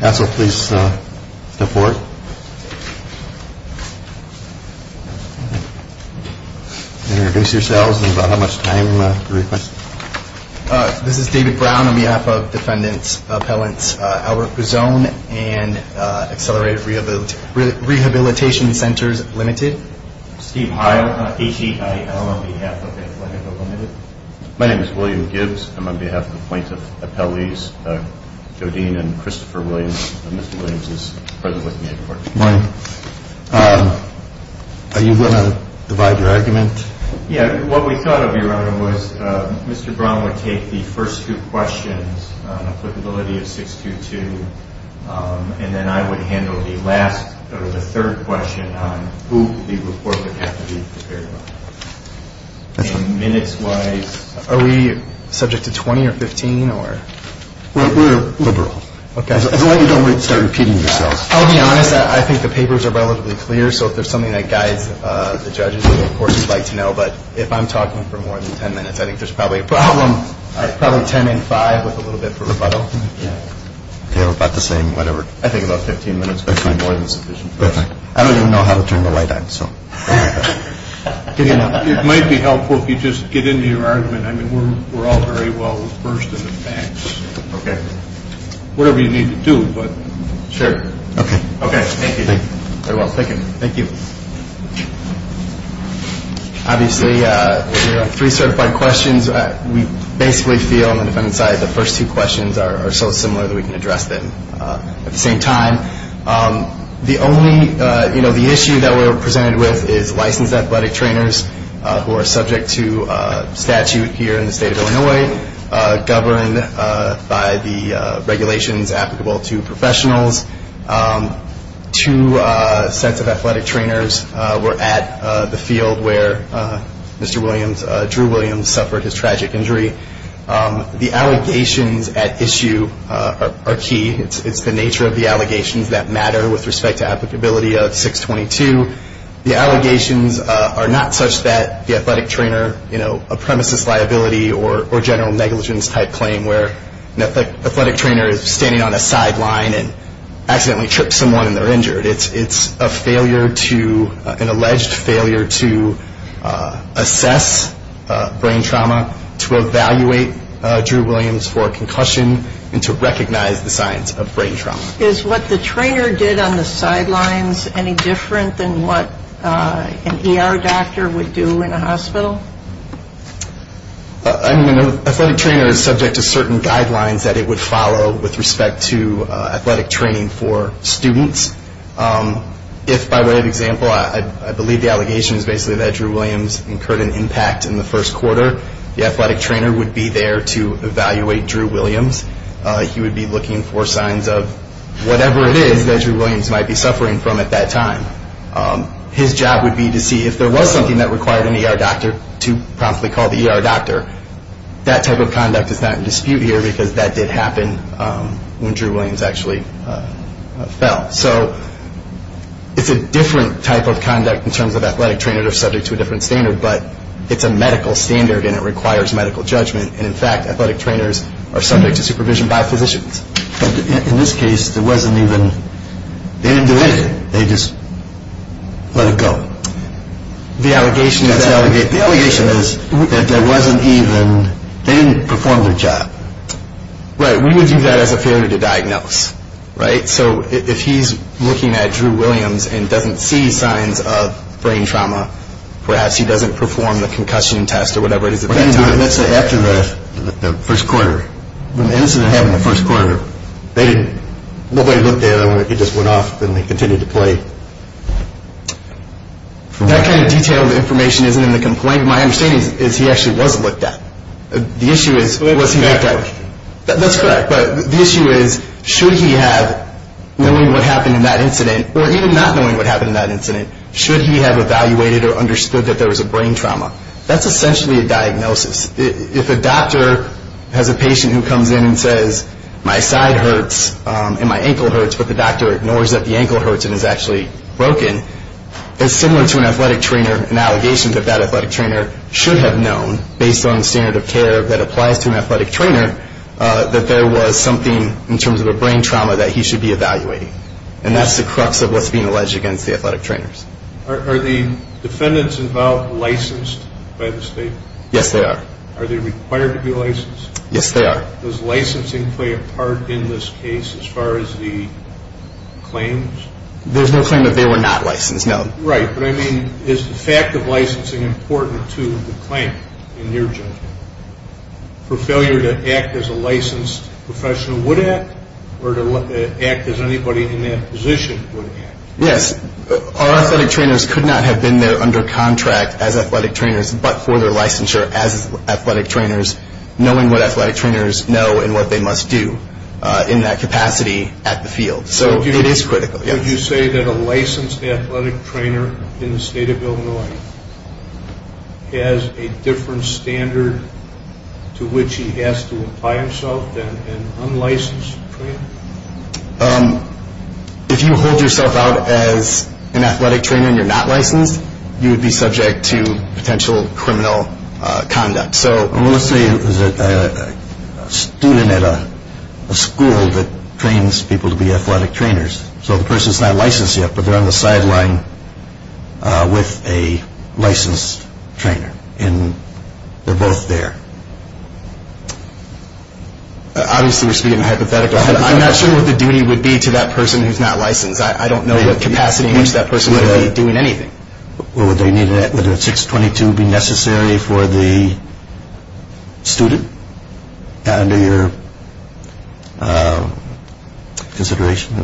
My name is William Gibbs. I'm on behalf of the plaintiff's appellees, Jodine and Christopher Williams. Mr. Williams is present with me at the court. Morning. Are you going to divide your argument? Yeah. What we thought of, Your Honor, was Mr. Brown would take the first two questions on applicability of 622, and then I would handle the last or the third question on who the report would have to be prepared on. And minutes-wise... Are we subject to 20 or 15 or... We're liberal. Okay. As long as you don't start repeating yourself. I'll be honest. I think the papers are relatively clear. So if there's something that guides the judges, of course, we'd like to know. But if I'm talking for more than 10 minutes, I think there's probably a problem. Probably 10 and 5 with a little bit of rebuttal. About the same, whatever. I think about 15 minutes would be more than sufficient. Perfect. I don't even know how to turn the light on, so... It might be helpful if you just get into your argument. I mean, we're all very well versed in the facts. Okay. Whatever you need to do, but... Sure. Okay. Okay. Thank you. Thank you very much. Thank you. Thank you. Obviously, we have three certified questions. We basically feel, on the defendant's side, the first two questions are so similar that we can address them at the same time. The issue that we're presented with is licensed athletic trainers who are subject to statute here in the state of Illinois, governed by the regulations applicable to professionals. Two sets of athletic trainers were at the field where Mr. Williams, Drew Williams, suffered his tragic injury. The allegations at issue are key. It's the nature of the allegations that matter with respect to applicability of 622. The allegations are not such that the athletic trainer, you know, a premises liability or general negligence type claim where an athletic trainer is standing on a sideline and accidentally trips someone and they're injured. It's a failure to, an alleged failure to assess brain trauma, to evaluate Drew Williams for a concussion, and to recognize the signs of brain trauma. Is what the trainer did on the sidelines any different than what an ER doctor would do in a hospital? An athletic trainer is subject to certain guidelines that it would follow with respect to athletic training for students. If, by way of example, I believe the allegation is basically that Drew Williams incurred an impact in the first quarter, the athletic trainer would be there to evaluate Drew Williams. He would be looking for signs of whatever it is that Drew Williams might be suffering from at that time. His job would be to see if there was something that required an ER doctor to promptly call the ER doctor. That type of conduct is not in dispute here because that did happen when Drew Williams actually fell. So it's a different type of conduct in terms of athletic trainers are subject to a different standard, but it's a medical standard and it requires medical judgment. And in fact, athletic trainers are subject to supervision by physicians. But in this case, there wasn't even, they didn't do anything. They just let it go. The allegation is that there wasn't even, they didn't perform their job. Right, we would use that as a failure to diagnose. So if he's looking at Drew Williams and doesn't see signs of brain trauma, perhaps he doesn't perform the concussion test or whatever it is at that time. Let's say after the first quarter. When the incident happened in the first quarter, nobody looked at him. He just went off and they continued to play. That kind of detailed information isn't in the complaint. My understanding is he actually was looked at. That's correct. But the issue is should he have, knowing what happened in that incident, or even not knowing what happened in that incident, should he have evaluated or understood that there was a brain trauma? That's essentially a diagnosis. If a doctor has a patient who comes in and says, my side hurts and my ankle hurts, but the doctor ignores that the ankle hurts and is actually broken, it's similar to an athletic trainer, an allegation that that athletic trainer should have known, based on the standard of care that applies to an athletic trainer, that there was something in terms of a brain trauma that he should be evaluating. And that's the crux of what's being alleged against the athletic trainers. Are the defendants involved licensed by the state? Yes, they are. Are they required to be licensed? Yes, they are. Does licensing play a part in this case as far as the claims? There's no claim that they were not licensed, no. Right, but I mean is the fact of licensing important to the claim in your judgment? For failure to act as a licensed professional would act, or to act as anybody in that position would act? Yes. Our athletic trainers could not have been there under contract as athletic trainers, but for their licensure as athletic trainers, knowing what athletic trainers know and what they must do in that capacity at the field. So it is critical, yes. Would you say that a licensed athletic trainer in the state of Illinois has a different standard to which he has to apply himself than an unlicensed trainer? If you hold yourself out as an athletic trainer and you're not licensed, you would be subject to potential criminal conduct. Let's say there's a student at a school that trains people to be athletic trainers, so the person's not licensed yet, but they're on the sideline with a licensed trainer, and they're both there. Obviously we're speaking hypothetically. I'm not sure what the duty would be to that person who's not licensed. I don't know what capacity in which that person would be doing anything. Would a 622 be necessary for the student under your consideration?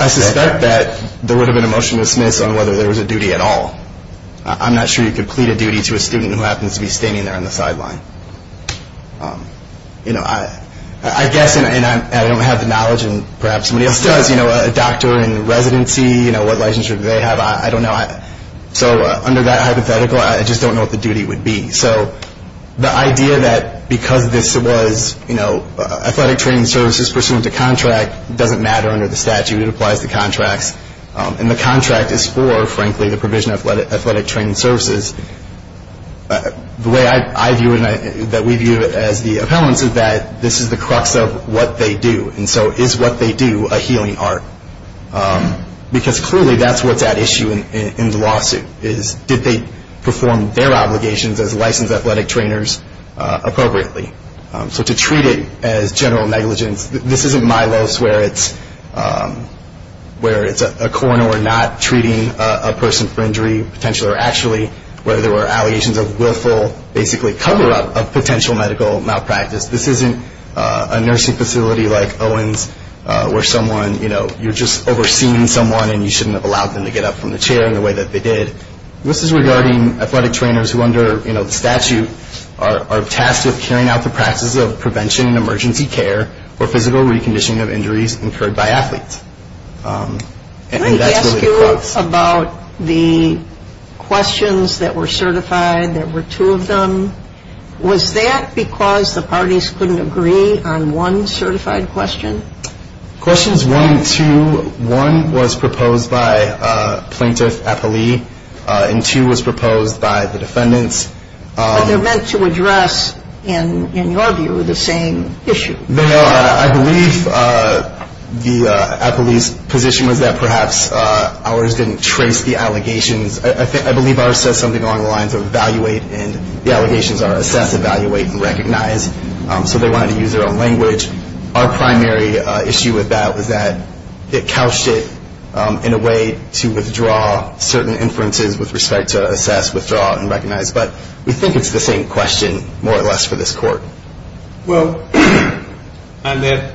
I suspect that there would have been a motion to dismiss on whether there was a duty at all. I'm not sure you could plead a duty to a student who happens to be standing there on the sideline. I guess, and I don't have the knowledge, and perhaps somebody else does, perhaps a doctor in residency, what licensure do they have? I don't know. So under that hypothetical, I just don't know what the duty would be. So the idea that because this was athletic training services pursuant to contract doesn't matter under the statute. It applies to contracts. And the contract is for, frankly, the provision of athletic training services. The way I view it and that we view it as the appellants is that this is the crux of what they do. And so is what they do a healing art? Because clearly that's what's at issue in the lawsuit is did they perform their obligations as licensed athletic trainers appropriately? So to treat it as general negligence, this isn't Milos where it's a coroner not treating a person for injury, potentially or actually, where there were allegations of willful basically cover-up of potential medical malpractice. This isn't a nursing facility like Owens where someone, you know, you're just overseeing someone and you shouldn't have allowed them to get up from the chair in the way that they did. This is regarding athletic trainers who under, you know, the statute are tasked with carrying out the practices of prevention and emergency care or physical reconditioning of injuries incurred by athletes. Can I ask you about the questions that were certified? There were two of them. Was that because the parties couldn't agree on one certified question? Questions 1 and 2, 1 was proposed by plaintiff appellee and 2 was proposed by the defendants. But they're meant to address, in your view, the same issue. They are. I believe the appellee's position was that perhaps ours didn't trace the allegations. I believe ours says something along the lines of evaluate and the allegations are assess, evaluate, and recognize. So they wanted to use their own language. Our primary issue with that was that it couched it in a way to withdraw certain inferences with respect to assess, withdraw, and recognize. But we think it's the same question, more or less, for this court. Well, on that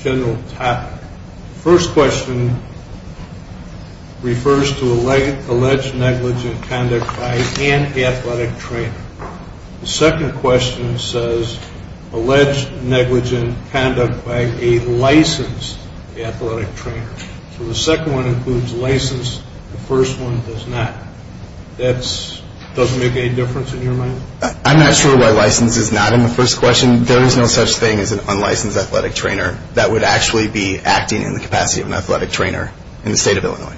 general topic, the first question refers to alleged negligent conduct by an athletic trainer. The second question says alleged negligent conduct by a licensed athletic trainer. So the second one includes license. The first one does not. That doesn't make any difference in your mind? I'm not sure why license is not in the first question. There is no such thing as an unlicensed athletic trainer that would actually be acting in the capacity of an athletic trainer in the state of Illinois.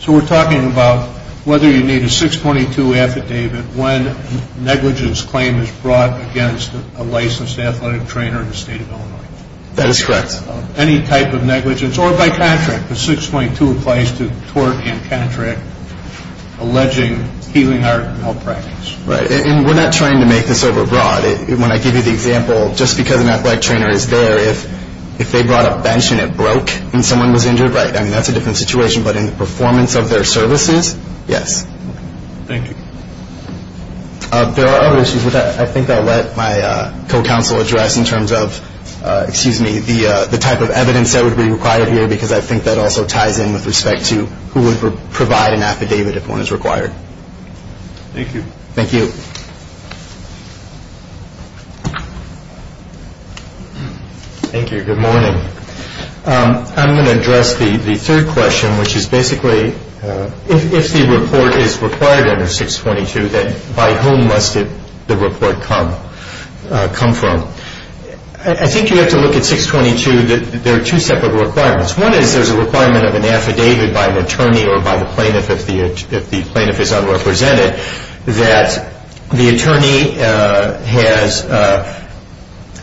So we're talking about whether you need a 622 affidavit when negligence claim is brought against a licensed athletic trainer in the state of Illinois. That is correct. Any type of negligence or by contract. The 622 applies to tort and contract, alleging healing art and health practice. Right. And we're not trying to make this overbroad. When I give you the example, just because an athletic trainer is there, if they brought a bench and it broke and someone was injured, right, I mean, that's a different situation. But in the performance of their services, yes. Thank you. There are other issues with that I think I'll let my co-counsel address in terms of the type of evidence that would be required here because I think that also ties in with respect to who would provide an affidavit if one is required. Thank you. Thank you. Thank you. Good morning. I'm going to address the third question, which is basically, if the report is required under 622, then by whom must the report come from? I think you have to look at 622. There are two separate requirements. One is there's a requirement of an affidavit by an attorney or by the plaintiff if the plaintiff is unrepresented that the attorney has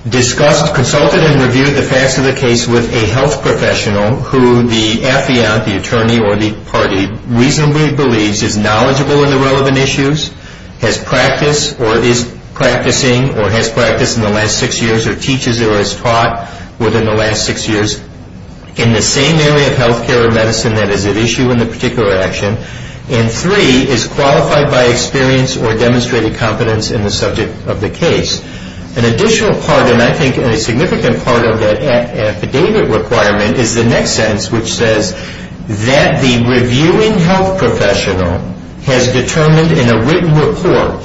discussed, consulted and reviewed the facts of the case with a health professional who the affiant, the attorney or the party reasonably believes is knowledgeable in the relevant issues, has practiced or is practicing or has practiced in the last six years or teaches or has taught within the last six years in the same area of health care or medicine that is at issue in the particular action. And three, is qualified by experience or demonstrated competence in the subject of the case. An additional part, and I think a significant part of that affidavit requirement is the next sentence, which says that the reviewing health professional has determined in a written report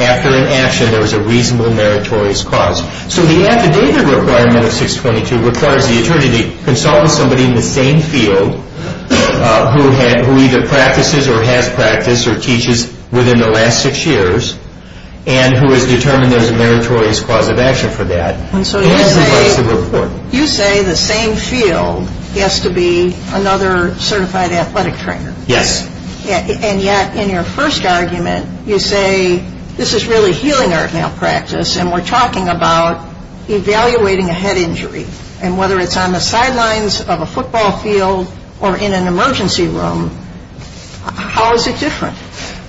after an action there was a reasonable meritorious cause. So the affidavit requirement of 622 requires the attorney to consult with somebody in the same field who either practices or has practiced or teaches within the last six years and who has determined there is a meritorious cause of action for that. And so you say the same field has to be another certified athletic trainer. Yes. And yet in your first argument you say this is really healing art now practice and we're talking about evaluating a head injury. And whether it's on the sidelines of a football field or in an emergency room, how is it different?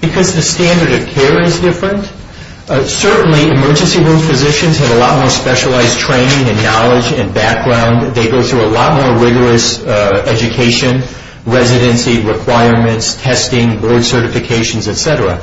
Because the standard of care is different. Certainly emergency room physicians have a lot more specialized training and knowledge and background. They go through a lot more rigorous education, residency requirements, testing, board certifications, et cetera.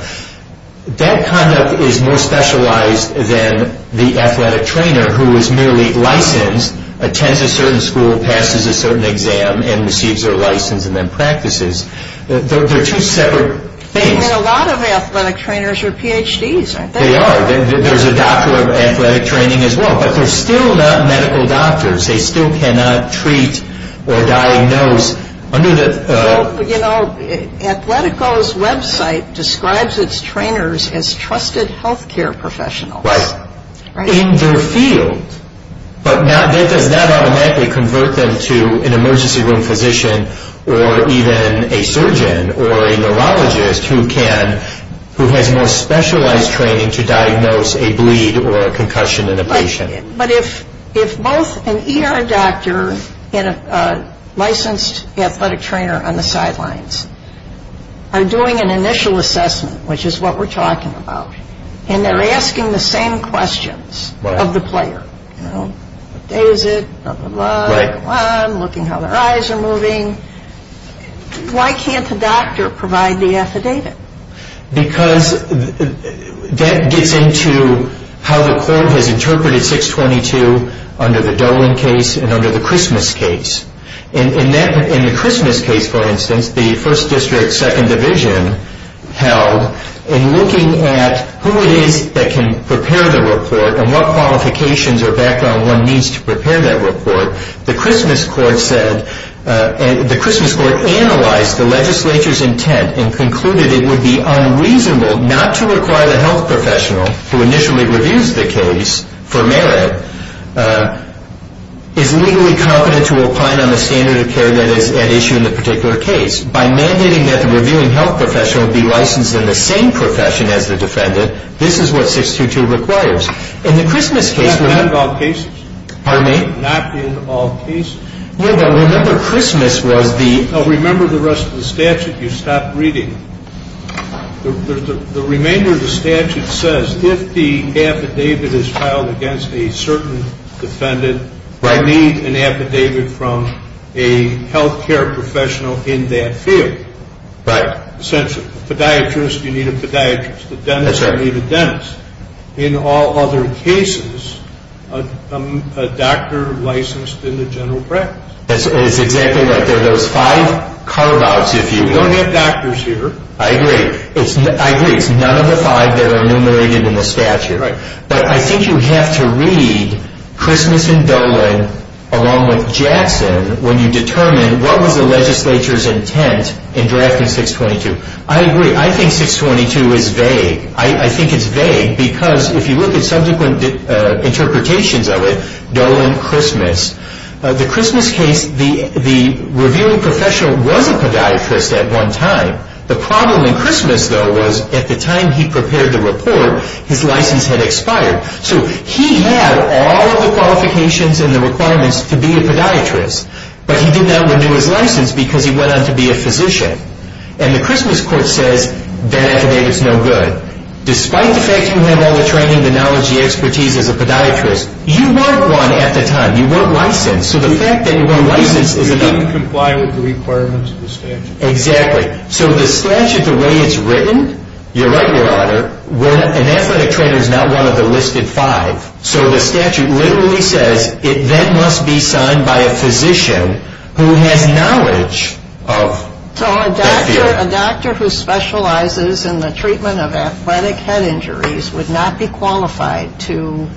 That conduct is more specialized than the athletic trainer who is merely licensed, attends a certain school, passes a certain exam, and receives their license and then practices. They're two separate things. And a lot of athletic trainers are Ph.D.s, aren't they? They are. There's a doctor of athletic training as well. But they're still not medical doctors. They still cannot treat or diagnose under the... Well, you know, Athletico's website describes its trainers as trusted health care professionals. Right. In their field. But does that automatically convert them to an emergency room physician or even a surgeon or a neurologist who has more specialized training to diagnose a bleed or a concussion in a patient? But if both an ER doctor and a licensed athletic trainer on the sidelines are doing an initial assessment, which is what we're talking about, and they're asking the same questions of the player, you know, what day is it, blah, blah, blah, looking how their eyes are moving, why can't the doctor provide the affidavit? Because that gets into how the court has interpreted 622 under the Dolan case and under the Christmas case. In the Christmas case, for instance, the 1st District, 2nd Division held in looking at who it is that can prepare the report and what qualifications or background one needs to prepare that report, the Christmas court said, the Christmas court analyzed the legislature's intent and concluded it would be unreasonable not to require the health professional who initially reviews the case for merit is legally competent to opine on the standard of care that is at issue in the particular case. By mandating that the reviewing health professional be licensed in the same profession as the defendant, this is what 622 requires. In the Christmas case... Not in all cases. Pardon me? Not in all cases. Remember Christmas was the... Remember the rest of the statute you stopped reading. The remainder of the statute says if the affidavit is filed against a certain defendant... Right. You need an affidavit from a health care professional in that field. Right. A podiatrist, you need a podiatrist. A dentist, you need a dentist. In all other cases, a doctor licensed in the general practice. That's exactly right. There are those five carve-outs, if you will. We don't have doctors here. I agree. I agree. It's none of the five that are enumerated in the statute. Right. But I think you have to read Christmas and Dolan along with Jackson when you determine what was the legislature's intent in drafting 622. I agree. I think 622 is vague. I think it's vague because if you look at subsequent interpretations of it, Dolan, Christmas. The Christmas case, the reviewing professional was a podiatrist at one time. The problem in Christmas, though, was at the time he prepared the report, his license had expired. So he had all of the qualifications and the requirements to be a podiatrist, but he did not renew his license because he went on to be a physician. And the Christmas court says that affidavit is no good. Despite the fact you have all the training, the knowledge, the expertise as a podiatrist, you weren't one at the time. You weren't licensed. So the fact that you weren't licensed is enough. You didn't comply with the requirements of the statute. Exactly. So the statute, the way it's written, you're right, Your Honor, an athletic trainer is not one of the listed five. So the statute literally says it then must be signed by a physician who has knowledge of that field. So a doctor who specializes in the treatment of athletic head injuries would not be qualified to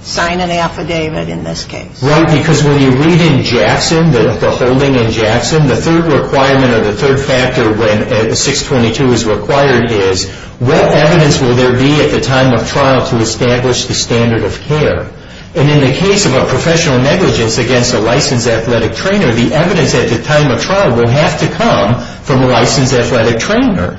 sign an affidavit in this case. Right, because when you read in Jackson, the holding in Jackson, the third requirement or the third factor when 622 is required is what evidence will there be at the time of trial to establish the standard of care? And in the case of a professional negligence against a licensed athletic trainer, the evidence at the time of trial will have to come from a licensed athletic trainer.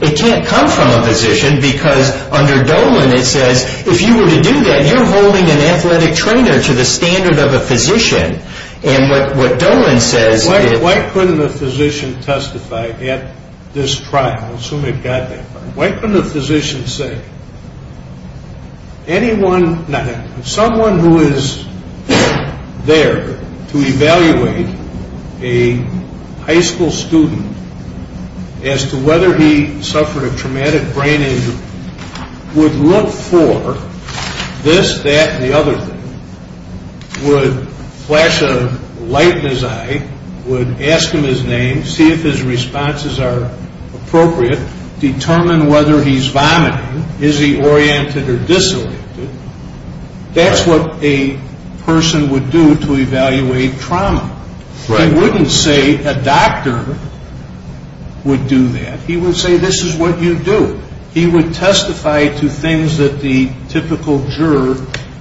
It can't come from a physician because under Dolan it says, if you were to do that you're holding an athletic trainer to the standard of a physician. And what Dolan says is why couldn't a physician testify at this trial? I assume it got that far. Why couldn't a physician say anyone, someone who is there to evaluate a high school student as to whether he suffered a traumatic brain injury would look for this, that, and the other thing, would flash a light in his eye, would ask him his name, see if his responses are appropriate, determine whether he's vomiting, is he oriented or disoriented. That's what a person would do to evaluate trauma. He wouldn't say a doctor would do that. He would say this is what you do. He would testify to things that the typical juror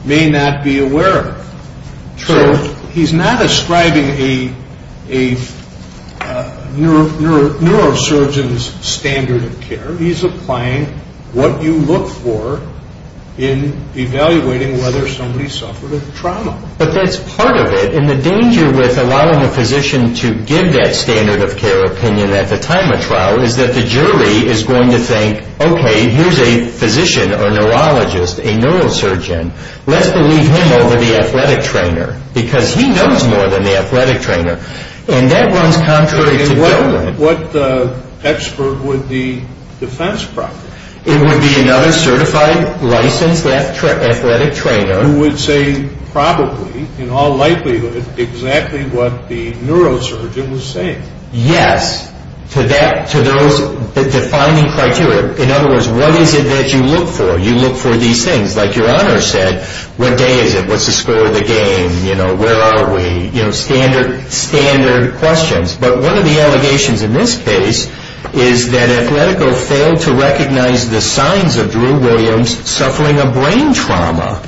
may not be aware of. So he's not ascribing a neurosurgeon's standard of care. He's applying what you look for in evaluating whether somebody suffered a trauma. But that's part of it. And the danger with allowing a physician to give that standard of care opinion at the time of trial is that the jury is going to think, okay, here's a physician or neurologist, a neurosurgeon. Let's believe him over the athletic trainer because he knows more than the athletic trainer. And that runs contrary to government. And what expert would the defense proctor? It would be another certified, licensed athletic trainer. Who would say probably, in all likelihood, exactly what the neurosurgeon was saying. Yes, to those defining criteria. In other words, what is it that you look for? You look for these things. Like your honor said, what day is it? What's the score of the game? Where are we? Standard questions. But one of the allegations in this case is that Athletico failed to recognize the signs of Drew Williams suffering a brain trauma.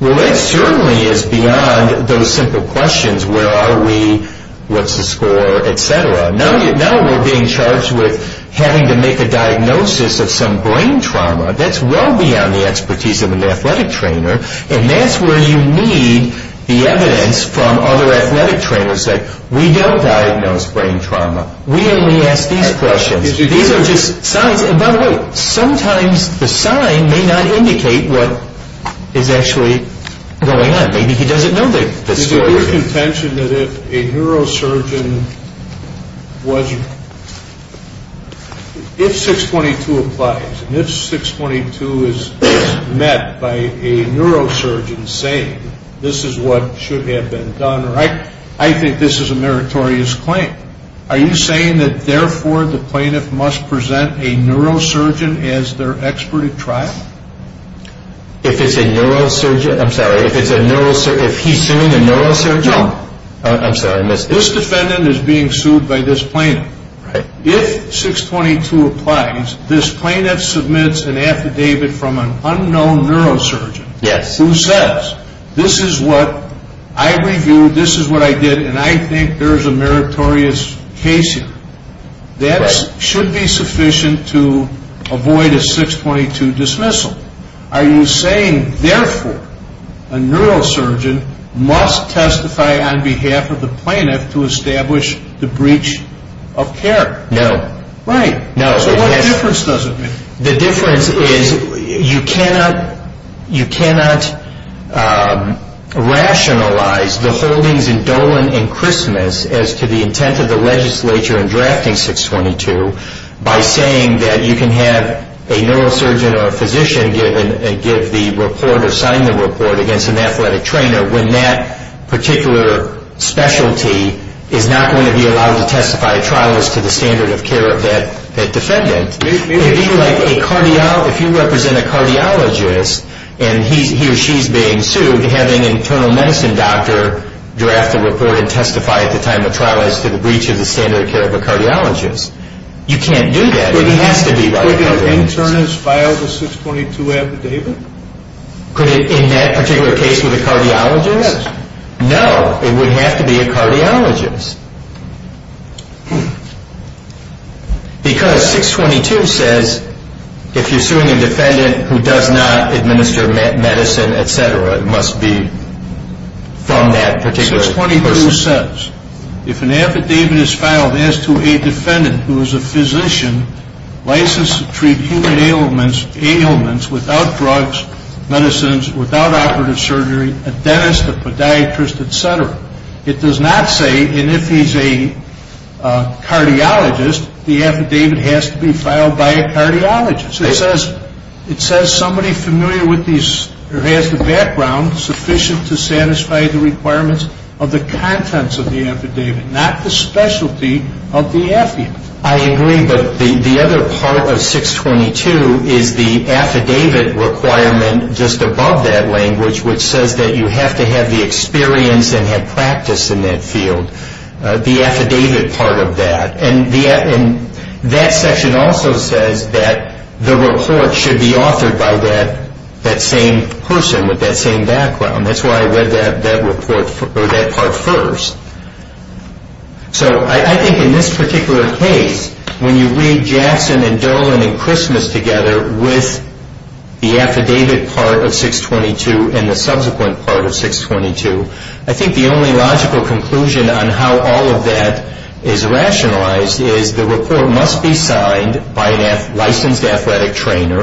Well, that certainly is beyond those simple questions. Where are we? What's the score? Et cetera. No, we're being charged with having to make a diagnosis of some brain trauma. That's well beyond the expertise of an athletic trainer. And that's where you need the evidence from other athletic trainers that we don't diagnose brain trauma. We only ask these questions. These are just signs. By the way, sometimes the sign may not indicate what is actually going on. Maybe he doesn't know the story. Is it your contention that if a neurosurgeon was ‑‑ if 622 applies, and if 622 is met by a neurosurgeon saying this is what should have been done, or I think this is a meritorious claim, are you saying that therefore the plaintiff must present a neurosurgeon as their expert at trial? If it's a neurosurgeon? I'm sorry. If he's suing a neurosurgeon? No. I'm sorry. This defendant is being sued by this plaintiff. Right. If 622 applies, this plaintiff submits an affidavit from an unknown neurosurgeon. Yes. Who says this is what I reviewed, this is what I did, and I think there is a meritorious case here. That should be sufficient to avoid a 622 dismissal. Are you saying therefore a neurosurgeon must testify on behalf of the plaintiff to establish the breach of care? No. Right. So what difference does it make? The difference is you cannot rationalize the holdings in Dolan and Christmas as to the intent of the legislature in drafting 622 by saying that you can have a neurosurgeon or a physician give the report or sign the report against an athletic trainer when that particular specialty is not going to be allowed to testify at trial as to the standard of care of that defendant. It would be like if you represent a cardiologist and he or she is being sued, having an internal medicine doctor draft the report and testify at the time of trial as to the breach of the standard of care of a cardiologist. You can't do that. It has to be like that. Would an internist file the 622 affidavit? In that particular case with a cardiologist? Yes. No. It would have to be a cardiologist. Because 622 says if you're suing a defendant who does not administer medicine, et cetera, it must be from that particular person. 622 says if an affidavit is filed as to a defendant who is a physician licensed to treat human ailments without drugs, medicines, without operative surgery, a dentist, a podiatrist, et cetera, it does not say, and if he's a cardiologist, the affidavit has to be filed by a cardiologist. It says somebody familiar with these or has the background sufficient to satisfy the requirements of the contents of the affidavit, not the specialty of the affiant. I agree, but the other part of 622 is the affidavit requirement just above that language which says that you have to have the experience and have practice in that field, the affidavit part of that. And that section also says that the report should be authored by that same person with that same background. That's why I read that part first. So I think in this particular case, when you read Jackson and Dolan and Christmas together with the affidavit part of 622 and the subsequent part of 622, I think the only logical conclusion on how all of that is rationalized is the report must be signed by a licensed athletic trainer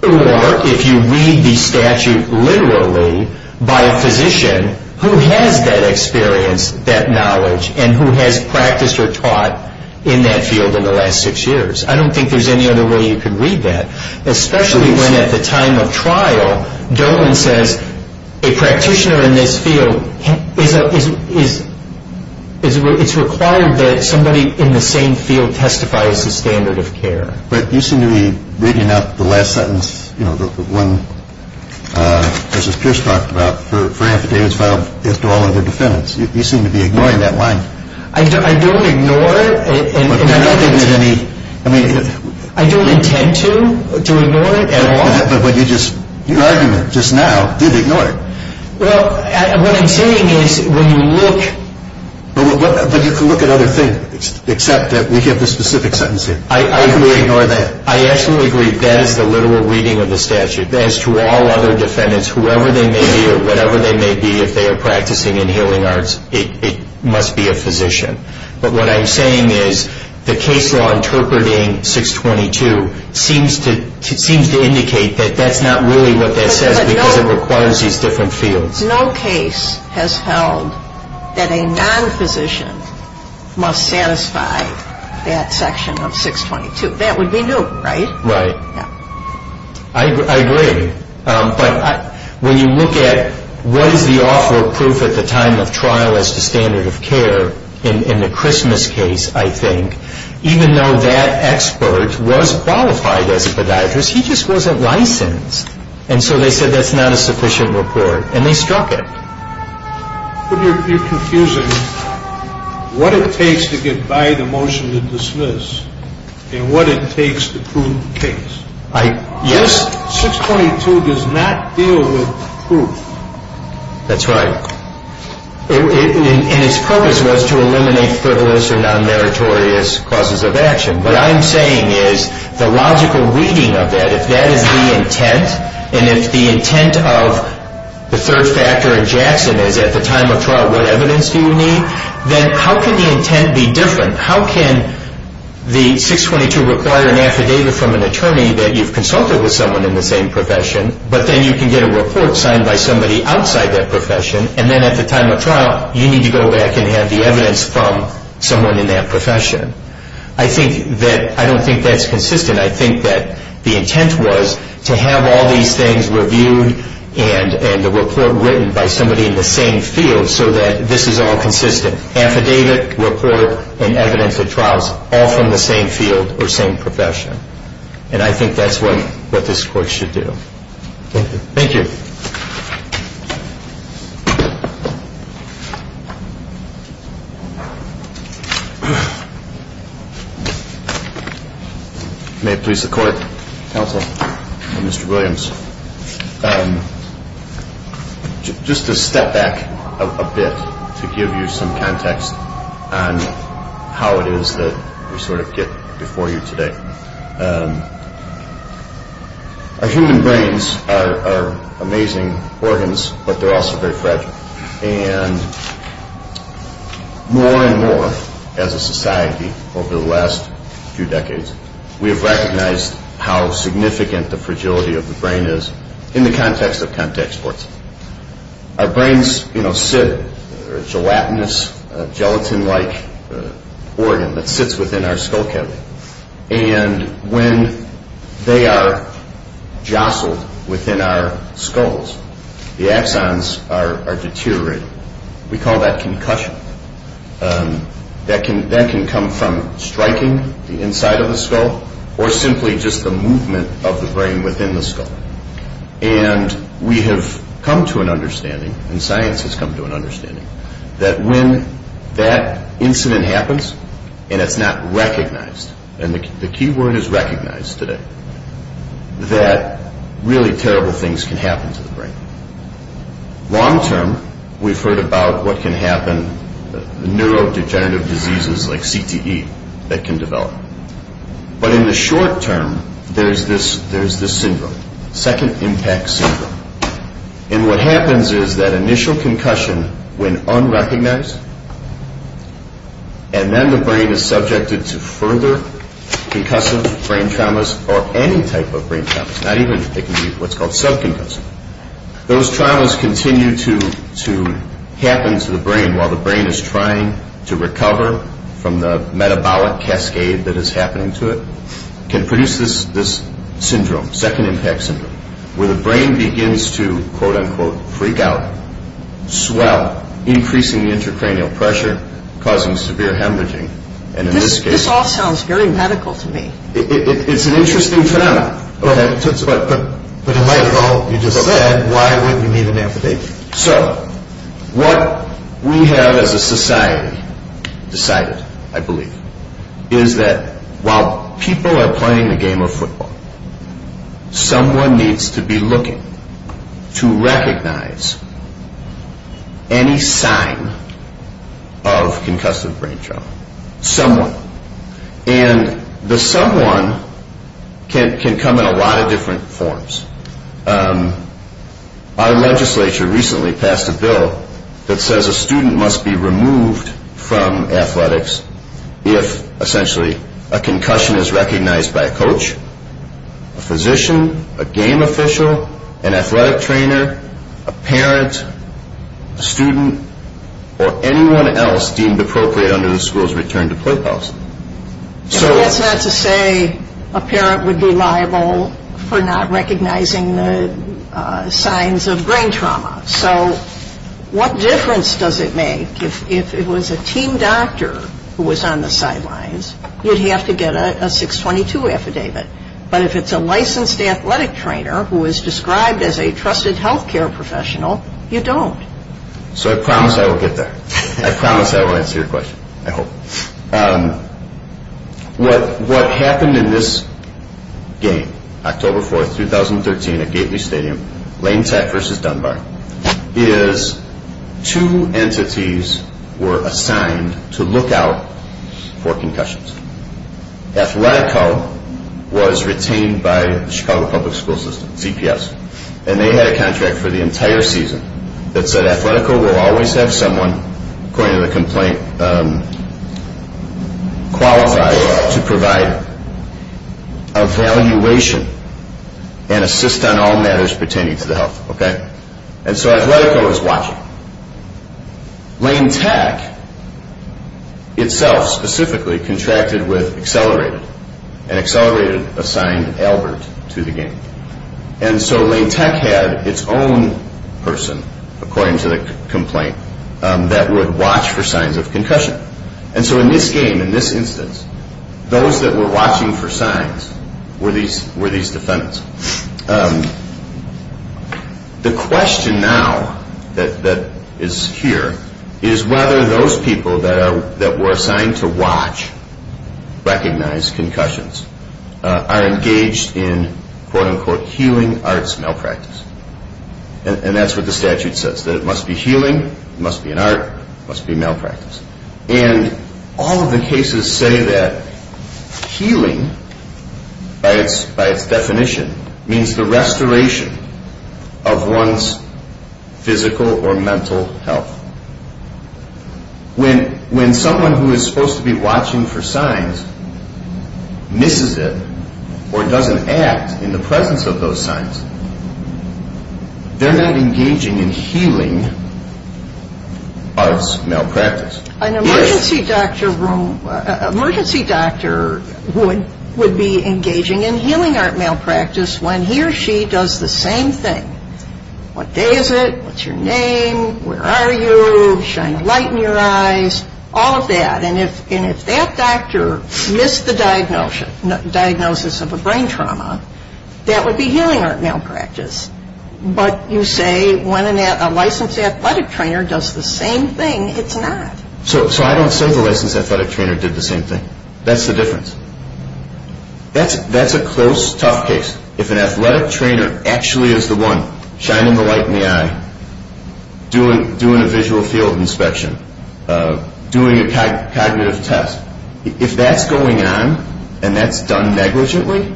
or if you read the statute literally by a physician who has that experience, that knowledge, and who has practiced or taught in that field in the last six years. I don't think there's any other way you could read that, especially when at the time of trial Dolan says a practitioner in this field, it's required that somebody in the same field testify as the standard of care. But you seem to be reading out the last sentence, you know, the one Justice Pierce talked about for affidavits filed as to all other defendants. You seem to be ignoring that line. I don't ignore it. I don't intend to ignore it at all. But your argument just now did ignore it. Well, what I'm saying is when you look... But you can look at other things except that we give the specific sentence here. How can we ignore that? I absolutely agree. That is the literal reading of the statute. As to all other defendants, whoever they may be or whatever they may be, if they are practicing in healing arts, it must be a physician. But what I'm saying is the case law interpreting 622 seems to indicate that that's not really what that says because it requires these different fields. But no case has held that a non-physician must satisfy that section of 622. That would be new, right? Right. Yeah. I agree. But when you look at what is the awful proof at the time of trial as to standard of care in the Christmas case, I think, even though that expert was qualified as a podiatrist, he just wasn't licensed. And so they said that's not a sufficient report, and they struck it. But you're confusing what it takes to get by the motion to dismiss and what it takes to prove the case. Yes. 622 does not deal with proof. That's right. And its purpose was to eliminate frivolous or non-meritorious causes of action. What I'm saying is the logical reading of that, if that is the intent, and if the intent of the third factor in Jackson is at the time of trial, what evidence do you need, then how can the intent be different? How can the 622 require an affidavit from an attorney that you've consulted with someone in the same profession, but then you can get a report signed by somebody outside that profession, and then at the time of trial you need to go back and have the evidence from someone in that profession? I don't think that's consistent. I think that the intent was to have all these things reviewed and the report written by somebody in the same field so that this is all consistent. Affidavit, report, and evidence at trials, all from the same field or same profession. And I think that's what this Court should do. Thank you. May it please the Court, Counsel, and Mr. Williams, just to step back a bit to give you some context on how it is that we sort of get before you today. Our human brains are amazing organs, but they're also very fragile. And more and more as a society over the last few decades, we have recognized how significant the fragility of the brain is in the context of contact sports. Our brains sit, they're a gelatinous, gelatin-like organ that sits within our skull cavity. And when they are jostled within our skulls, the axons are deteriorating. We call that concussion. That can come from striking the inside of the skull or simply just the movement of the brain within the skull. And we have come to an understanding, and science has come to an understanding, that when that incident happens and it's not recognized, and the key word is recognized today, that really terrible things can happen to the brain. Long term, we've heard about what can happen, neurodegenerative diseases like CTE that can develop. But in the short term, there's this syndrome, second impact syndrome. And what happens is that initial concussion, when unrecognized, and then the brain is subjected to further concussive brain traumas or any type of brain traumas, not even what's called sub-concussive, those traumas continue to happen to the brain while the brain is trying to recover from the metabolic cascade that is happening to it, can produce this syndrome, second impact syndrome, where the brain begins to, quote-unquote, freak out, swell, increasing the intracranial pressure, causing severe hemorrhaging. And in this case... This all sounds very medical to me. It's an interesting phenomenon. Go ahead. But in light of all you just said, why would we need an amputation? So, what we have as a society decided, I believe, is that while people are playing the game of football, someone needs to be looking to recognize any sign of concussive brain trauma. Someone. And the someone can come in a lot of different forms. Our legislature recently passed a bill that says a student must be removed from athletics if, essentially, a concussion is recognized by a coach, a physician, a game official, an athletic trainer, a parent, a student, or anyone else deemed appropriate under the school's return to play policy. That's not to say a parent would be liable for not recognizing the signs of brain trauma. So, what difference does it make if it was a team doctor who was on the sidelines? You'd have to get a 622 affidavit. But if it's a licensed athletic trainer who is described as a trusted health care professional, you don't. So, I promise I will get there. I promise I will answer your question. I hope. What happened in this game, October 4th, 2013, at Gately Stadium, Lane Tech versus Dunbar, is two entities were assigned to look out for concussions. Athletico was retained by the Chicago Public School System, CPS, and they had a contract for the entire season that said Athletico will always have someone, according to the complaint, qualified to provide evaluation and assist on all matters pertaining to the health. And so, Athletico is watching. Lane Tech itself, specifically, contracted with Accelerated, and Accelerated assigned Albert to the game. And so, Lane Tech had its own person, according to the complaint, that would watch for signs of concussion. And so, in this game, in this instance, those that were watching for signs were these defendants. The question now that is here is whether those people that were assigned to watch, recognize concussions, are engaged in, quote-unquote, healing arts malpractice. And that's what the statute says, that it must be healing, it must be an art, it must be malpractice. And all of the cases say that healing, by its definition, means the restoration of one's physical or mental health. When someone who is supposed to be watching for signs misses it, or doesn't act in the presence of those signs, they're not engaging in healing arts malpractice. An emergency doctor would be engaging in healing art malpractice when he or she does the same thing. What day is it? What's your name? Where are you? Shine a light in your eyes. All of that. And if that doctor missed the diagnosis of a brain trauma, that would be healing art malpractice. But you say when a licensed athletic trainer does the same thing, it's not. So I don't say the licensed athletic trainer did the same thing. That's the difference. That's a close, tough case. If an athletic trainer actually is the one shining the light in the eye, doing a visual field inspection, doing a cognitive test, if that's going on and that's done negligently,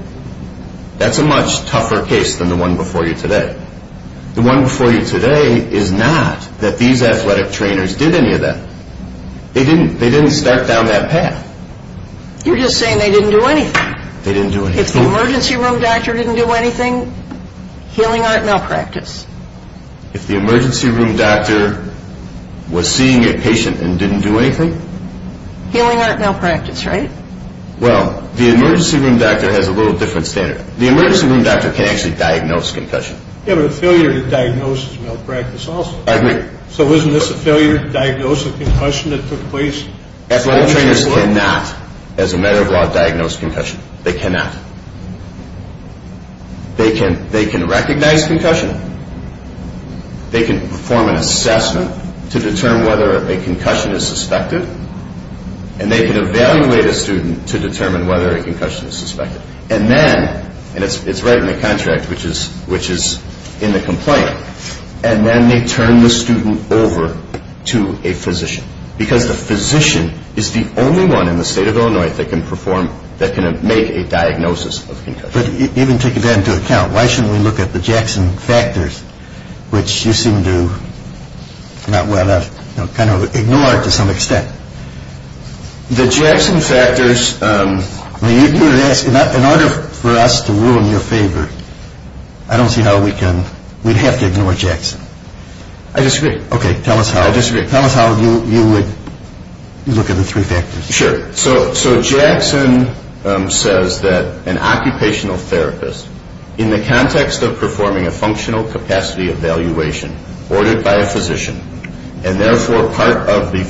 that's a much tougher case than the one before you today. The one before you today is not that these athletic trainers did any of that. They didn't start down that path. You're just saying they didn't do anything. They didn't do anything. If the emergency room doctor didn't do anything, healing art malpractice. If the emergency room doctor was seeing a patient and didn't do anything? Healing art malpractice, right? Well, the emergency room doctor has a little different standard. The emergency room doctor can actually diagnose concussion. Yeah, but a failure to diagnose is malpractice also. I agree. So isn't this a failure to diagnose a concussion that took place? Athletic trainers cannot, as a matter of law, diagnose concussion. They cannot. They can recognize concussion. They can perform an assessment to determine whether a concussion is suspected. And they can evaluate a student to determine whether a concussion is suspected. And then, and it's right in the contract, which is in the complaint, and then they turn the student over to a physician because the physician is the only one in the state of Illinois that can perform, that can make a diagnosis of concussion. But even taking that into account, why shouldn't we look at the Jackson factors, which you seem to not want to kind of ignore to some extent? The Jackson factors. In order for us to rule in your favor, I don't see how we can, we'd have to ignore Jackson. I disagree. Okay, tell us how. I disagree. Tell us how you would look at the three factors. Sure. So Jackson says that an occupational therapist, in the context of performing a functional capacity evaluation ordered by a physician, and therefore part of the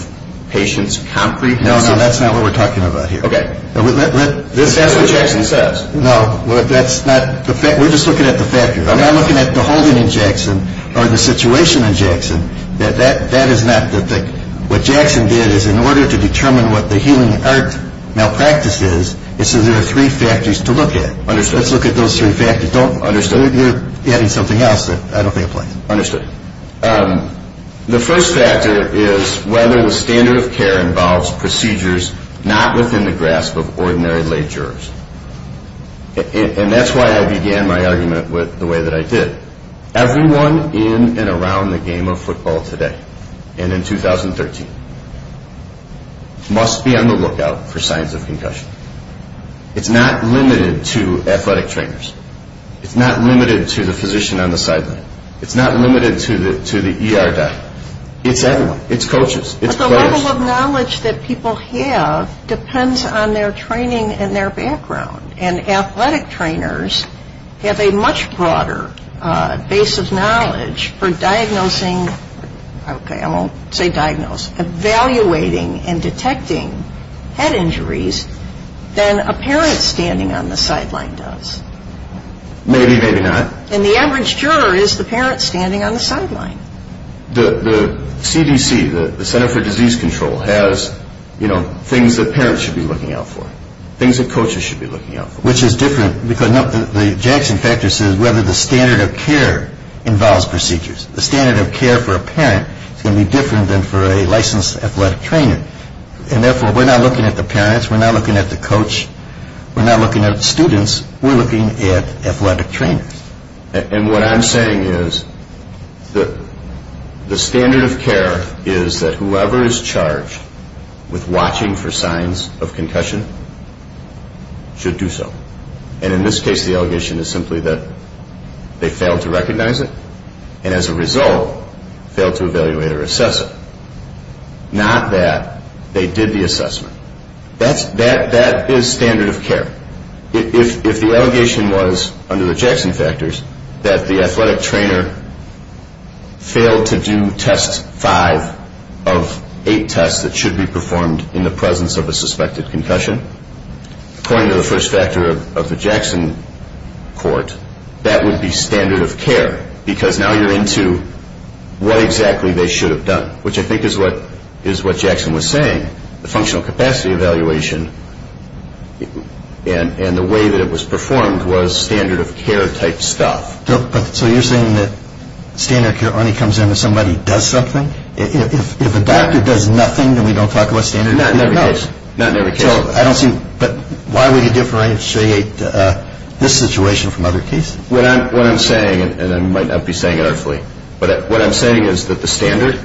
patient's concrete condition. No, no, that's not what we're talking about here. Okay. That's what Jackson says. No, that's not, we're just looking at the factors. I'm not looking at the holding in Jackson or the situation in Jackson. What Jackson did is in order to determine what the healing art malpractice is, it says there are three factors to look at. Understood. Let's look at those three factors. Understood. You're adding something else that I don't think applies. Understood. The first factor is whether the standard of care involves procedures not within the grasp of ordinary lay jurors. And that's why I began my argument with the way that I did. Everyone in and around the game of football today and in 2013 must be on the lookout for signs of concussion. It's not limited to athletic trainers. It's not limited to the physician on the sideline. It's not limited to the ER guy. It's everyone. It's coaches. It's players. But the level of knowledge that people have depends on their training and their background. And athletic trainers have a much broader base of knowledge for diagnosing, okay, I won't say diagnose, evaluating and detecting head injuries than a parent standing on the sideline does. Maybe, maybe not. And the average juror is the parent standing on the sideline. The CDC, the Center for Disease Control, has things that parents should be looking out for, things that coaches should be looking out for. Which is different because the Jackson factor says whether the standard of care involves procedures. The standard of care for a parent is going to be different than for a licensed athletic trainer. And therefore, we're not looking at the parents. We're not looking at the coach. We're not looking at students. We're looking at athletic trainers. And what I'm saying is the standard of care is that whoever is charged with watching for signs of concussion should do so. And in this case, the allegation is simply that they failed to recognize it and as a result failed to evaluate or assess it. Not that they did the assessment. That is standard of care. If the allegation was under the Jackson factors that the athletic trainer failed to do test five of eight tests that should be performed in the presence of a suspected concussion, according to the first factor of the Jackson court, that would be standard of care. Because now you're into what exactly they should have done, which I think is what Jackson was saying. The functional capacity evaluation and the way that it was performed was standard of care type stuff. So you're saying that standard of care only comes in when somebody does something? If a doctor does nothing, then we don't talk about standard of care? Not in every case. Not in every case. But why would you differentiate this situation from other cases? What I'm saying, and I might not be saying it artfully, but what I'm saying is that the standard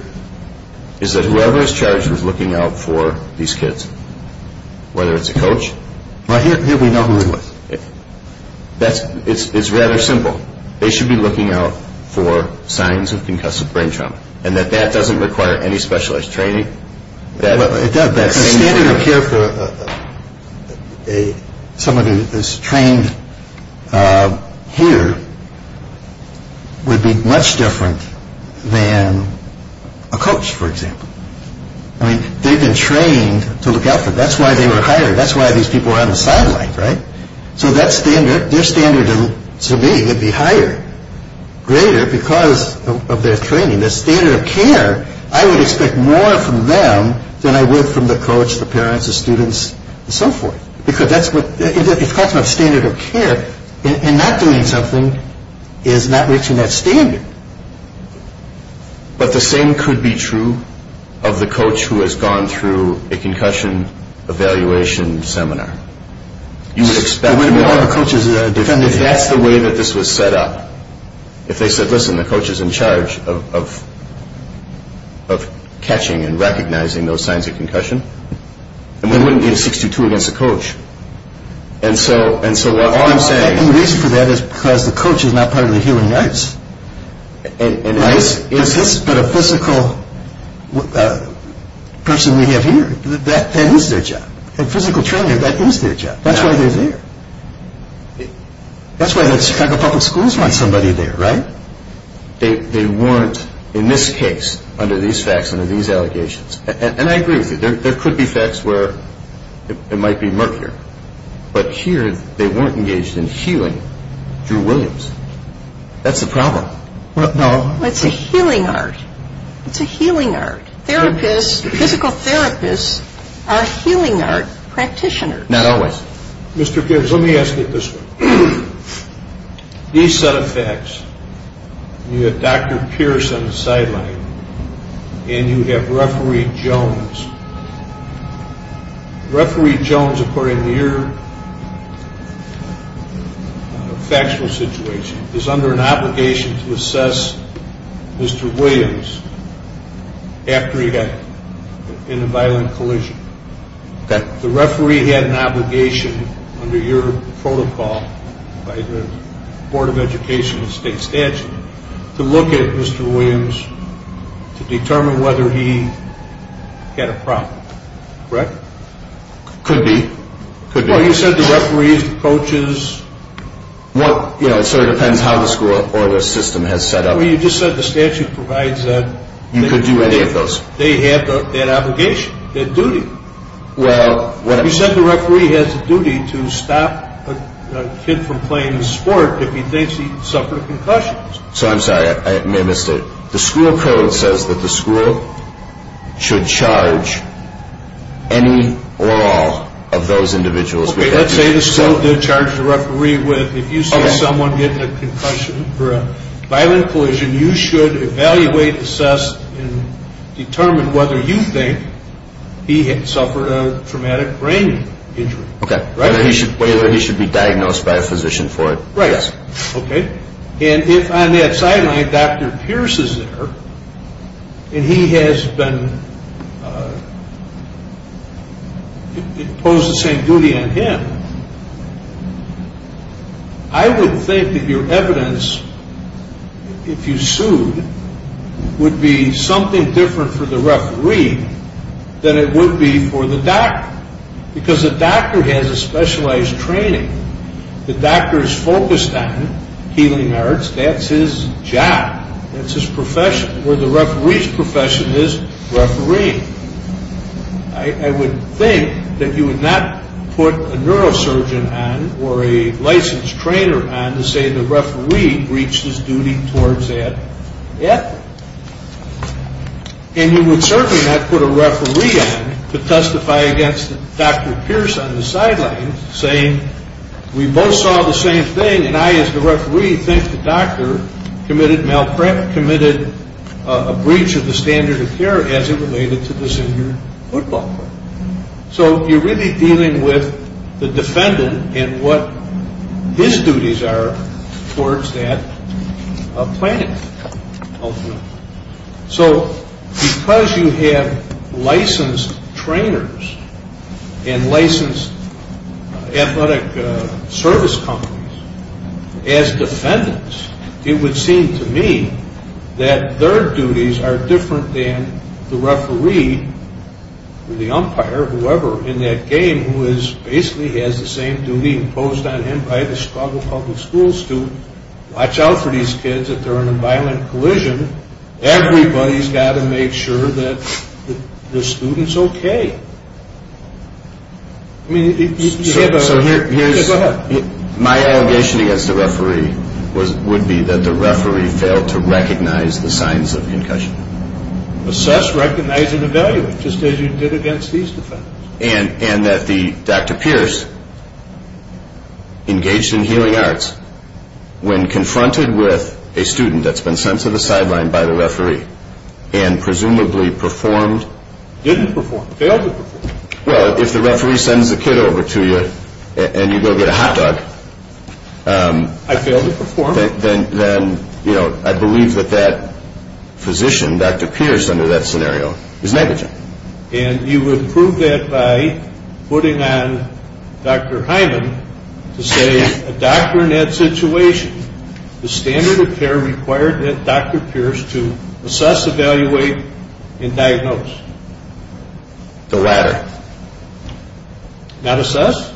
is that whoever is charged with looking out for these kids, whether it's a coach. Well, here we know who it was. It's rather simple. They should be looking out for signs of concussive brain trauma, and that that doesn't require any specialized training. The standard of care for somebody that's trained here would be much different than a coach, for example. I mean, they've been trained to look out for them. That's why they were hired. That's why these people were on the sidelines, right? So that standard, their standard to me would be higher, greater, because of their training. The standard of care, I would expect more from them than I would from the coach, the parents, the students, and so forth. Because that's what, it's got to have standard of care, and not doing something is not reaching that standard. But the same could be true of the coach who has gone through a concussion evaluation seminar. You would expect more. That's the way that this was set up. If they said, listen, the coach is in charge of catching and recognizing those signs of concussion, then we wouldn't need a 62 against the coach. And so all I'm saying is... The reason for that is because the coach is not part of the healing ice. Ice is... But a physical person we have here, that is their job. A physical trainer, that is their job. That's why they're there. That's why the Chicago Public Schools want somebody there, right? They want, in this case, under these facts, under these allegations, and I agree with you. There could be facts where it might be murkier. But here they weren't engaged in healing Drew Williams. That's the problem. Well, it's a healing art. It's a healing art. Therapists, physical therapists are healing art practitioners. Not always. Mr. Gibbs, let me ask you this one. These set of facts, you have Dr. Pierce on the sideline, and you have Referee Jones. Referee Jones, according to your factual situation, is under an obligation to assess Mr. Williams after he got in a violent collision. The referee had an obligation under your protocol by the Board of Education to look at Mr. Williams to determine whether he had a problem. Correct? Could be. Could be. Well, you said the referees, the coaches. It sort of depends how the school or the system has set up. Well, you just said the statute provides that. You could do any of those. They have that obligation, that duty. Well, whatever. You said the referee has a duty to stop a kid from playing a sport if he thinks he suffered a concussion. So I'm sorry. I may have missed it. The school code says that the school should charge any or all of those individuals. Okay. Let's say the school did charge the referee with, if you see someone get in a concussion or a violent collision, you should evaluate, assess, and determine whether you think he had suffered a traumatic brain injury. Okay. Whether he should be diagnosed by a physician for it. Right. Okay. And if on that sideline Dr. Pierce is there and he has been imposed the same duty on him, I would think that your evidence, if you sued, would be something different for the referee than it would be for the doctor because the doctor has a specialized training. The doctor is focused on healing arts. That's his job. That's his profession. Where the referee's profession is, referee. I would think that you would not put a neurosurgeon on or a licensed trainer on to say the referee reached his duty towards that yet. And you would certainly not put a referee on to testify against Dr. Pierce on the sidelines saying we both saw the same thing and I as the referee think the doctor committed malpractice, committed a breach of the standard of care as it related to the senior football player. So you're really dealing with the defendant and what his duties are towards that plaintiff. So because you have licensed trainers and licensed athletic service companies as defendants, it would seem to me that their duties are different than the referee or the umpire, whoever in that game, who basically has the same duty imposed on him by the Chicago Public Schools to watch out for these kids if they're in a violent collision. Everybody's got to make sure that the student's okay. So here's my allegation against the referee would be that the referee failed to recognize the signs of concussion. Assess, recognize, and evaluate just as you did against these defendants. And that Dr. Pierce engaged in healing arts when confronted with a student that's been sent to the sideline by the referee and presumably performed. Didn't perform, failed to perform. Well, if the referee sends the kid over to you and you go get a hot dog. I failed to perform. Then I believe that that physician, Dr. Pierce under that scenario, is negligent. And you would prove that by putting on Dr. Hyman to say a doctor in that situation, the standard of care required that Dr. Pierce to assess, evaluate, and diagnose. The latter. Not assess.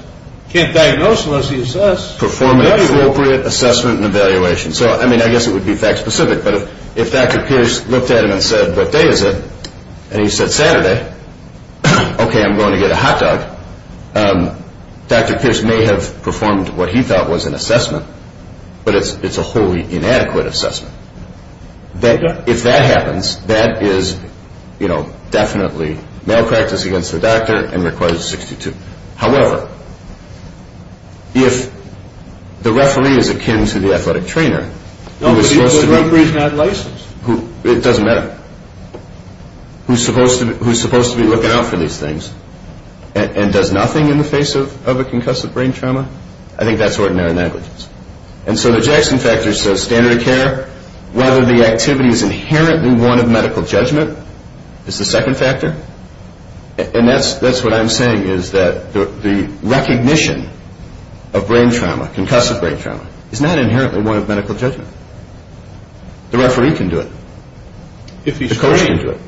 Can't diagnose unless he assess. Perform an appropriate assessment and evaluation. So, I mean, I guess it would be fact specific, but if Dr. Pierce looked at him and said, what day is it? And he said, Saturday. Okay, I'm going to get a hot dog. Dr. Pierce may have performed what he thought was an assessment, but it's a wholly inadequate assessment. If that happens, that is definitely malpractice against the doctor and requires a 62. However, if the referee is akin to the athletic trainer, who is supposed to be looking out for these things and does nothing in the face of a concussive brain trauma, I think that's ordinary negligence. And so the Jackson factor says standard of care, whether the activity is inherently one of medical judgment is the second factor. And that's what I'm saying is that the recognition of brain trauma, concussive brain trauma, is not inherently one of medical judgment. The referee can do it. If he's trained. The coach can do it.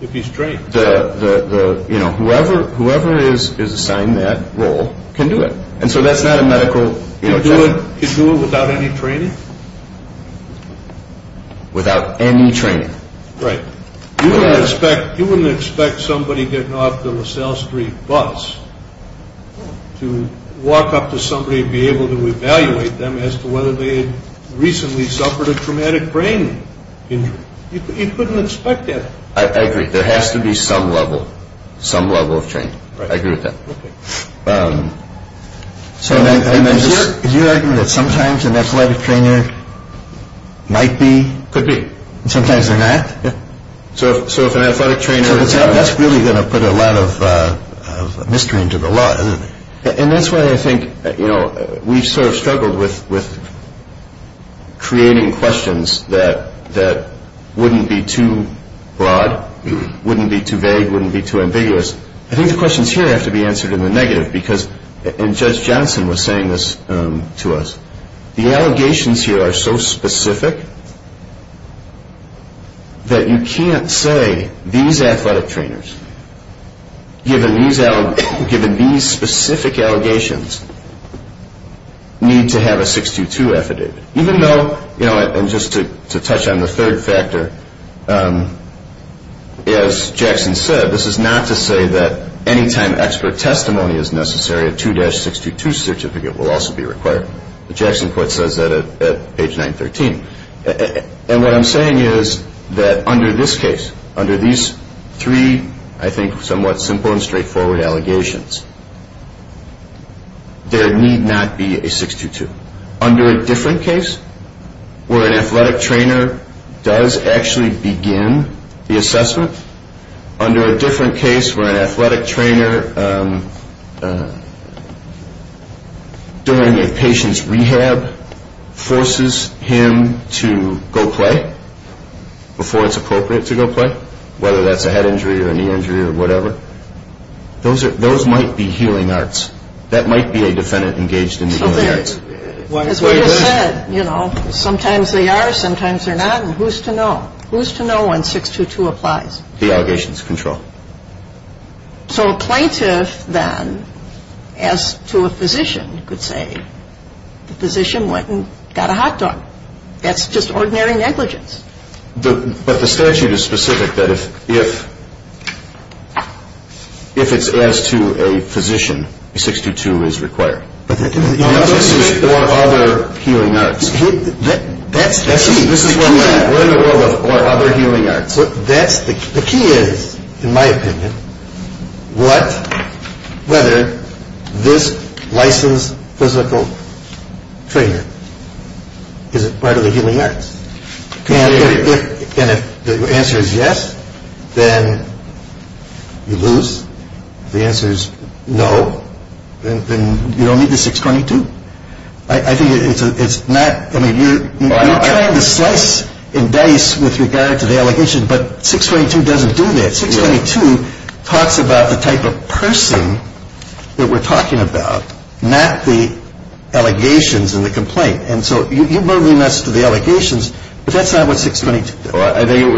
If he's trained. The, you know, whoever is assigned that role can do it. And so that's not a medical judgment. Can do it without any training? Without any training. Right. You wouldn't expect somebody getting off the LaSalle Street bus to walk up to somebody and be able to evaluate them as to whether they had recently suffered a traumatic brain injury. You couldn't expect that. I agree. There has to be some level, some level of training. Right. I agree with that. Okay. So I'm just... Are you sure? Do you argue that sometimes an athletic trainer might be... Could be. And sometimes they're not? Yeah. So if an athletic trainer... And that's why I think, you know, we've sort of struggled with creating questions that wouldn't be too broad, wouldn't be too vague, wouldn't be too ambiguous. I think the questions here have to be answered in the negative because... And Judge Johnson was saying this to us. The allegations here are so specific that you can't say, these athletic trainers, given these specific allegations, need to have a 622 affidavit. Even though, you know, and just to touch on the third factor, as Jackson said, this is not to say that any time expert testimony is necessary, a 2-622 certificate will also be required. The Jackson court says that at page 913. And what I'm saying is that under this case, under these three, I think, somewhat simple and straightforward allegations, there need not be a 622. Under a different case where an athletic trainer does actually begin the assessment, under a different case where an athletic trainer, during a patient's rehab, forces him to go play before it's appropriate to go play, whether that's a head injury or a knee injury or whatever, those might be healing arts. That might be a defendant engaged in the healing arts. As we just said, you know, sometimes they are, sometimes they're not, and who's to know? Who's to know when 622 applies? The allegations control. So a plaintiff then, as to a physician, could say the physician went and got a hot dog. That's just ordinary negligence. But the statute is specific that if it's as to a physician, a 622 is required. But this is for other healing arts. That's the key. We're in the world of other healing arts. The key is, in my opinion, whether this licensed physical trainer is a part of the healing arts. And if the answer is yes, then you lose. If the answer is no, then you don't need the 622. I think it's not, I mean, you're trying to slice and dice with regard to the allegation, but 622 doesn't do that. 622 talks about the type of person that we're talking about, not the allegations and the complaint. And so you're moving us to the allegations, but that's not what 622 does. I think it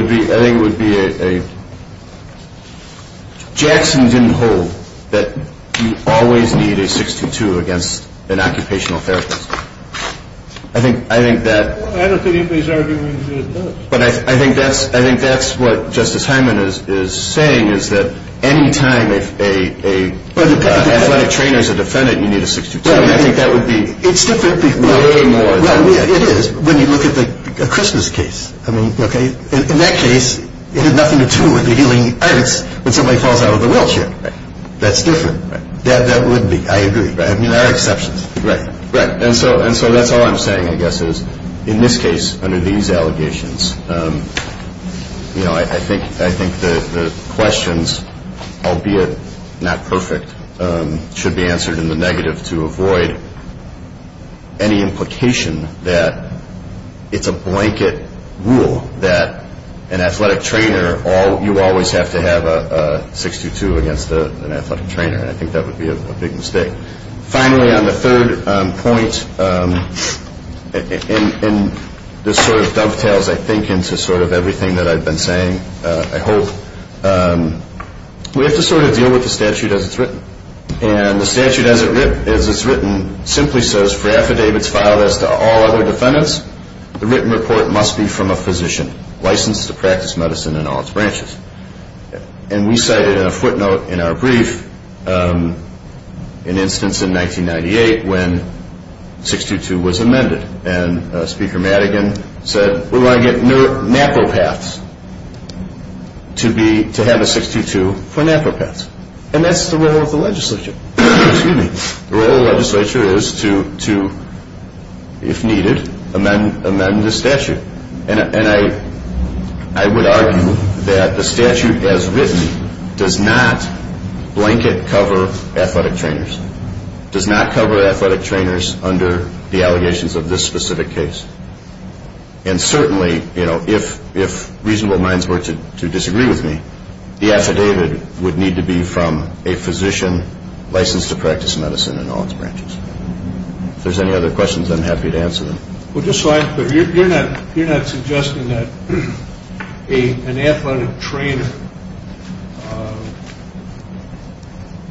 would be a – Jackson didn't hold that you always need a 622 against an occupational therapist. I think that – I don't think anybody's arguing that it does. But I think that's what Justice Hyman is saying, is that any time an athletic trainer is a defendant, you need a 622, and I think that would be way more – It is, when you look at the Christmas case. In that case, it had nothing to do with the healing arts when somebody falls out of a wheelchair. That's different. That would be – I agree. I mean, there are exceptions. Right. And so that's all I'm saying, I guess, is in this case, under these allegations, I think the questions, albeit not perfect, should be answered in the negative to avoid any implication that it's a blanket rule that an athletic trainer – you always have to have a 622 against an athletic trainer, and I think that would be a big mistake. Finally, on the third point, and this sort of dovetails, I think, into sort of everything that I've been saying, I hope, we have to sort of deal with the statute as it's written. And the statute as it's written simply says, for affidavits filed as to all other defendants, the written report must be from a physician, licensed to practice medicine in all its branches. And we cited in a footnote in our brief an instance in 1998 when 622 was amended, and Speaker Madigan said, we want to get napropaths to have a 622 for napropaths. And that's the role of the legislature. Excuse me. The role of the legislature is to, if needed, amend the statute. And I would argue that the statute as written does not blanket cover athletic trainers, does not cover athletic trainers under the allegations of this specific case. And certainly, you know, if reasonable minds were to disagree with me, the affidavit would need to be from a physician licensed to practice medicine in all its branches. If there's any other questions, I'm happy to answer them. Well, just so I understand, you're not suggesting that an athletic trainer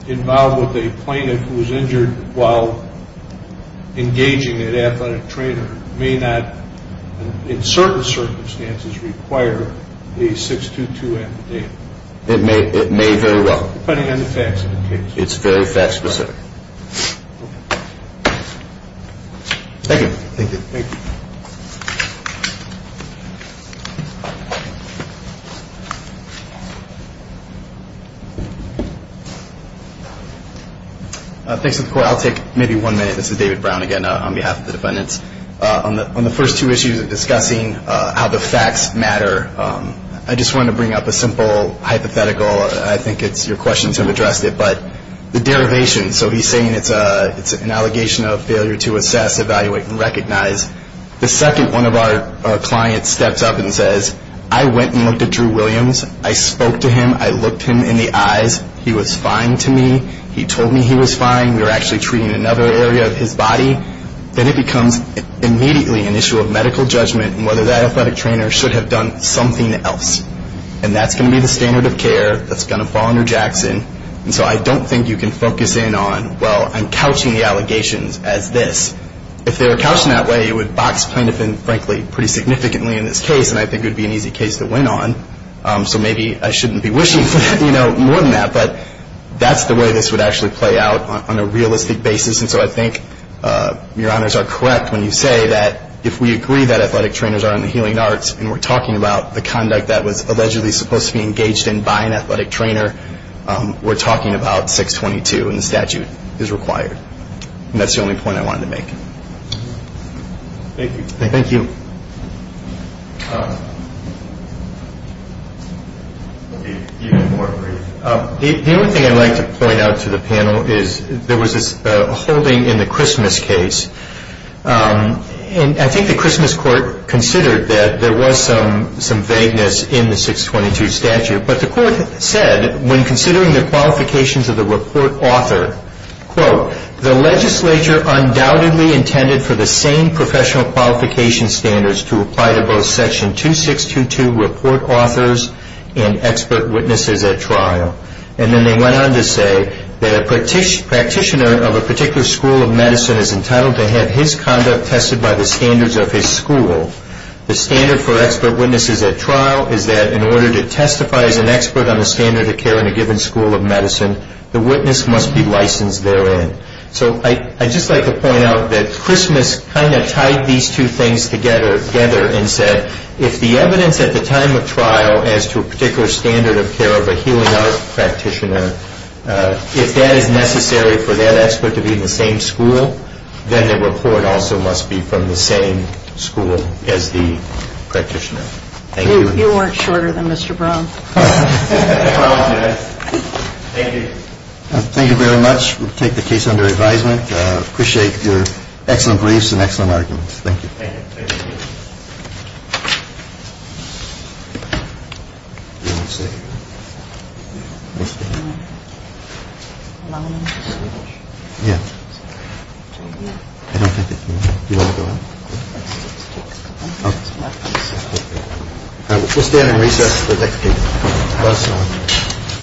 involved with a plaintiff who was injured while engaging an athletic trainer may not, in certain circumstances, require a 622 affidavit? It may very well. Depending on the facts of the case. It's very fact specific. Okay. Thank you. Thank you. Thank you. Thanks to the court. I'll take maybe one minute. This is David Brown again on behalf of the defendants. On the first two issues of discussing how the facts matter, I just wanted to bring up a simple hypothetical. I think it's your questions have addressed it. But the derivation, so he's saying it's an allegation of failure to assess, evaluate, and recognize. The second one of our clients steps up and says, I went and looked at Drew Williams. I spoke to him. I looked him in the eyes. He was fine to me. He told me he was fine. We were actually treating another area of his body. Then it becomes immediately an issue of medical judgment and whether that athletic trainer should have done something else. And that's going to be the standard of care that's going to fall under Jackson. And so I don't think you can focus in on, well, I'm couching the allegations as this. If they were couched in that way, it would box plaintiff in, frankly, pretty significantly in this case. And I think it would be an easy case to win on. So maybe I shouldn't be wishing for that, you know, more than that. But that's the way this would actually play out on a realistic basis. And so I think your honors are correct when you say that if we agree that athletic trainers are in the healing arts and we're talking about the conduct that was allegedly supposed to be engaged in by an athletic trainer, we're talking about 622 and the statute is required. And that's the only point I wanted to make. Thank you. Thank you. The only thing I'd like to point out to the panel is there was this holding in the Christmas case. And I think the Christmas court considered that there was some vagueness in the 622 statute. But the court said, when considering the qualifications of the report author, quote, the legislature undoubtedly intended for the same professional qualification standards to apply to both section 2622 report authors and expert witnesses at trial. And then they went on to say that a practitioner of a particular school of medicine is entitled to have his conduct tested by the standards of his school. The standard for expert witnesses at trial is that in order to testify as an expert on the standard of care in a given school of medicine, the witness must be licensed therein. So I'd just like to point out that Christmas kind of tied these two things together and said, if the evidence at the time of trial as to a particular standard of care of a healing art practitioner, if that is necessary for that expert to be in the same school, then the report also must be from the same school as the practitioner. Thank you. You weren't shorter than Mr. Brown. Thank you. Thank you very much. We'll take the case under advisement. Appreciate your excellent briefs and excellent arguments. Thank you. Thank you.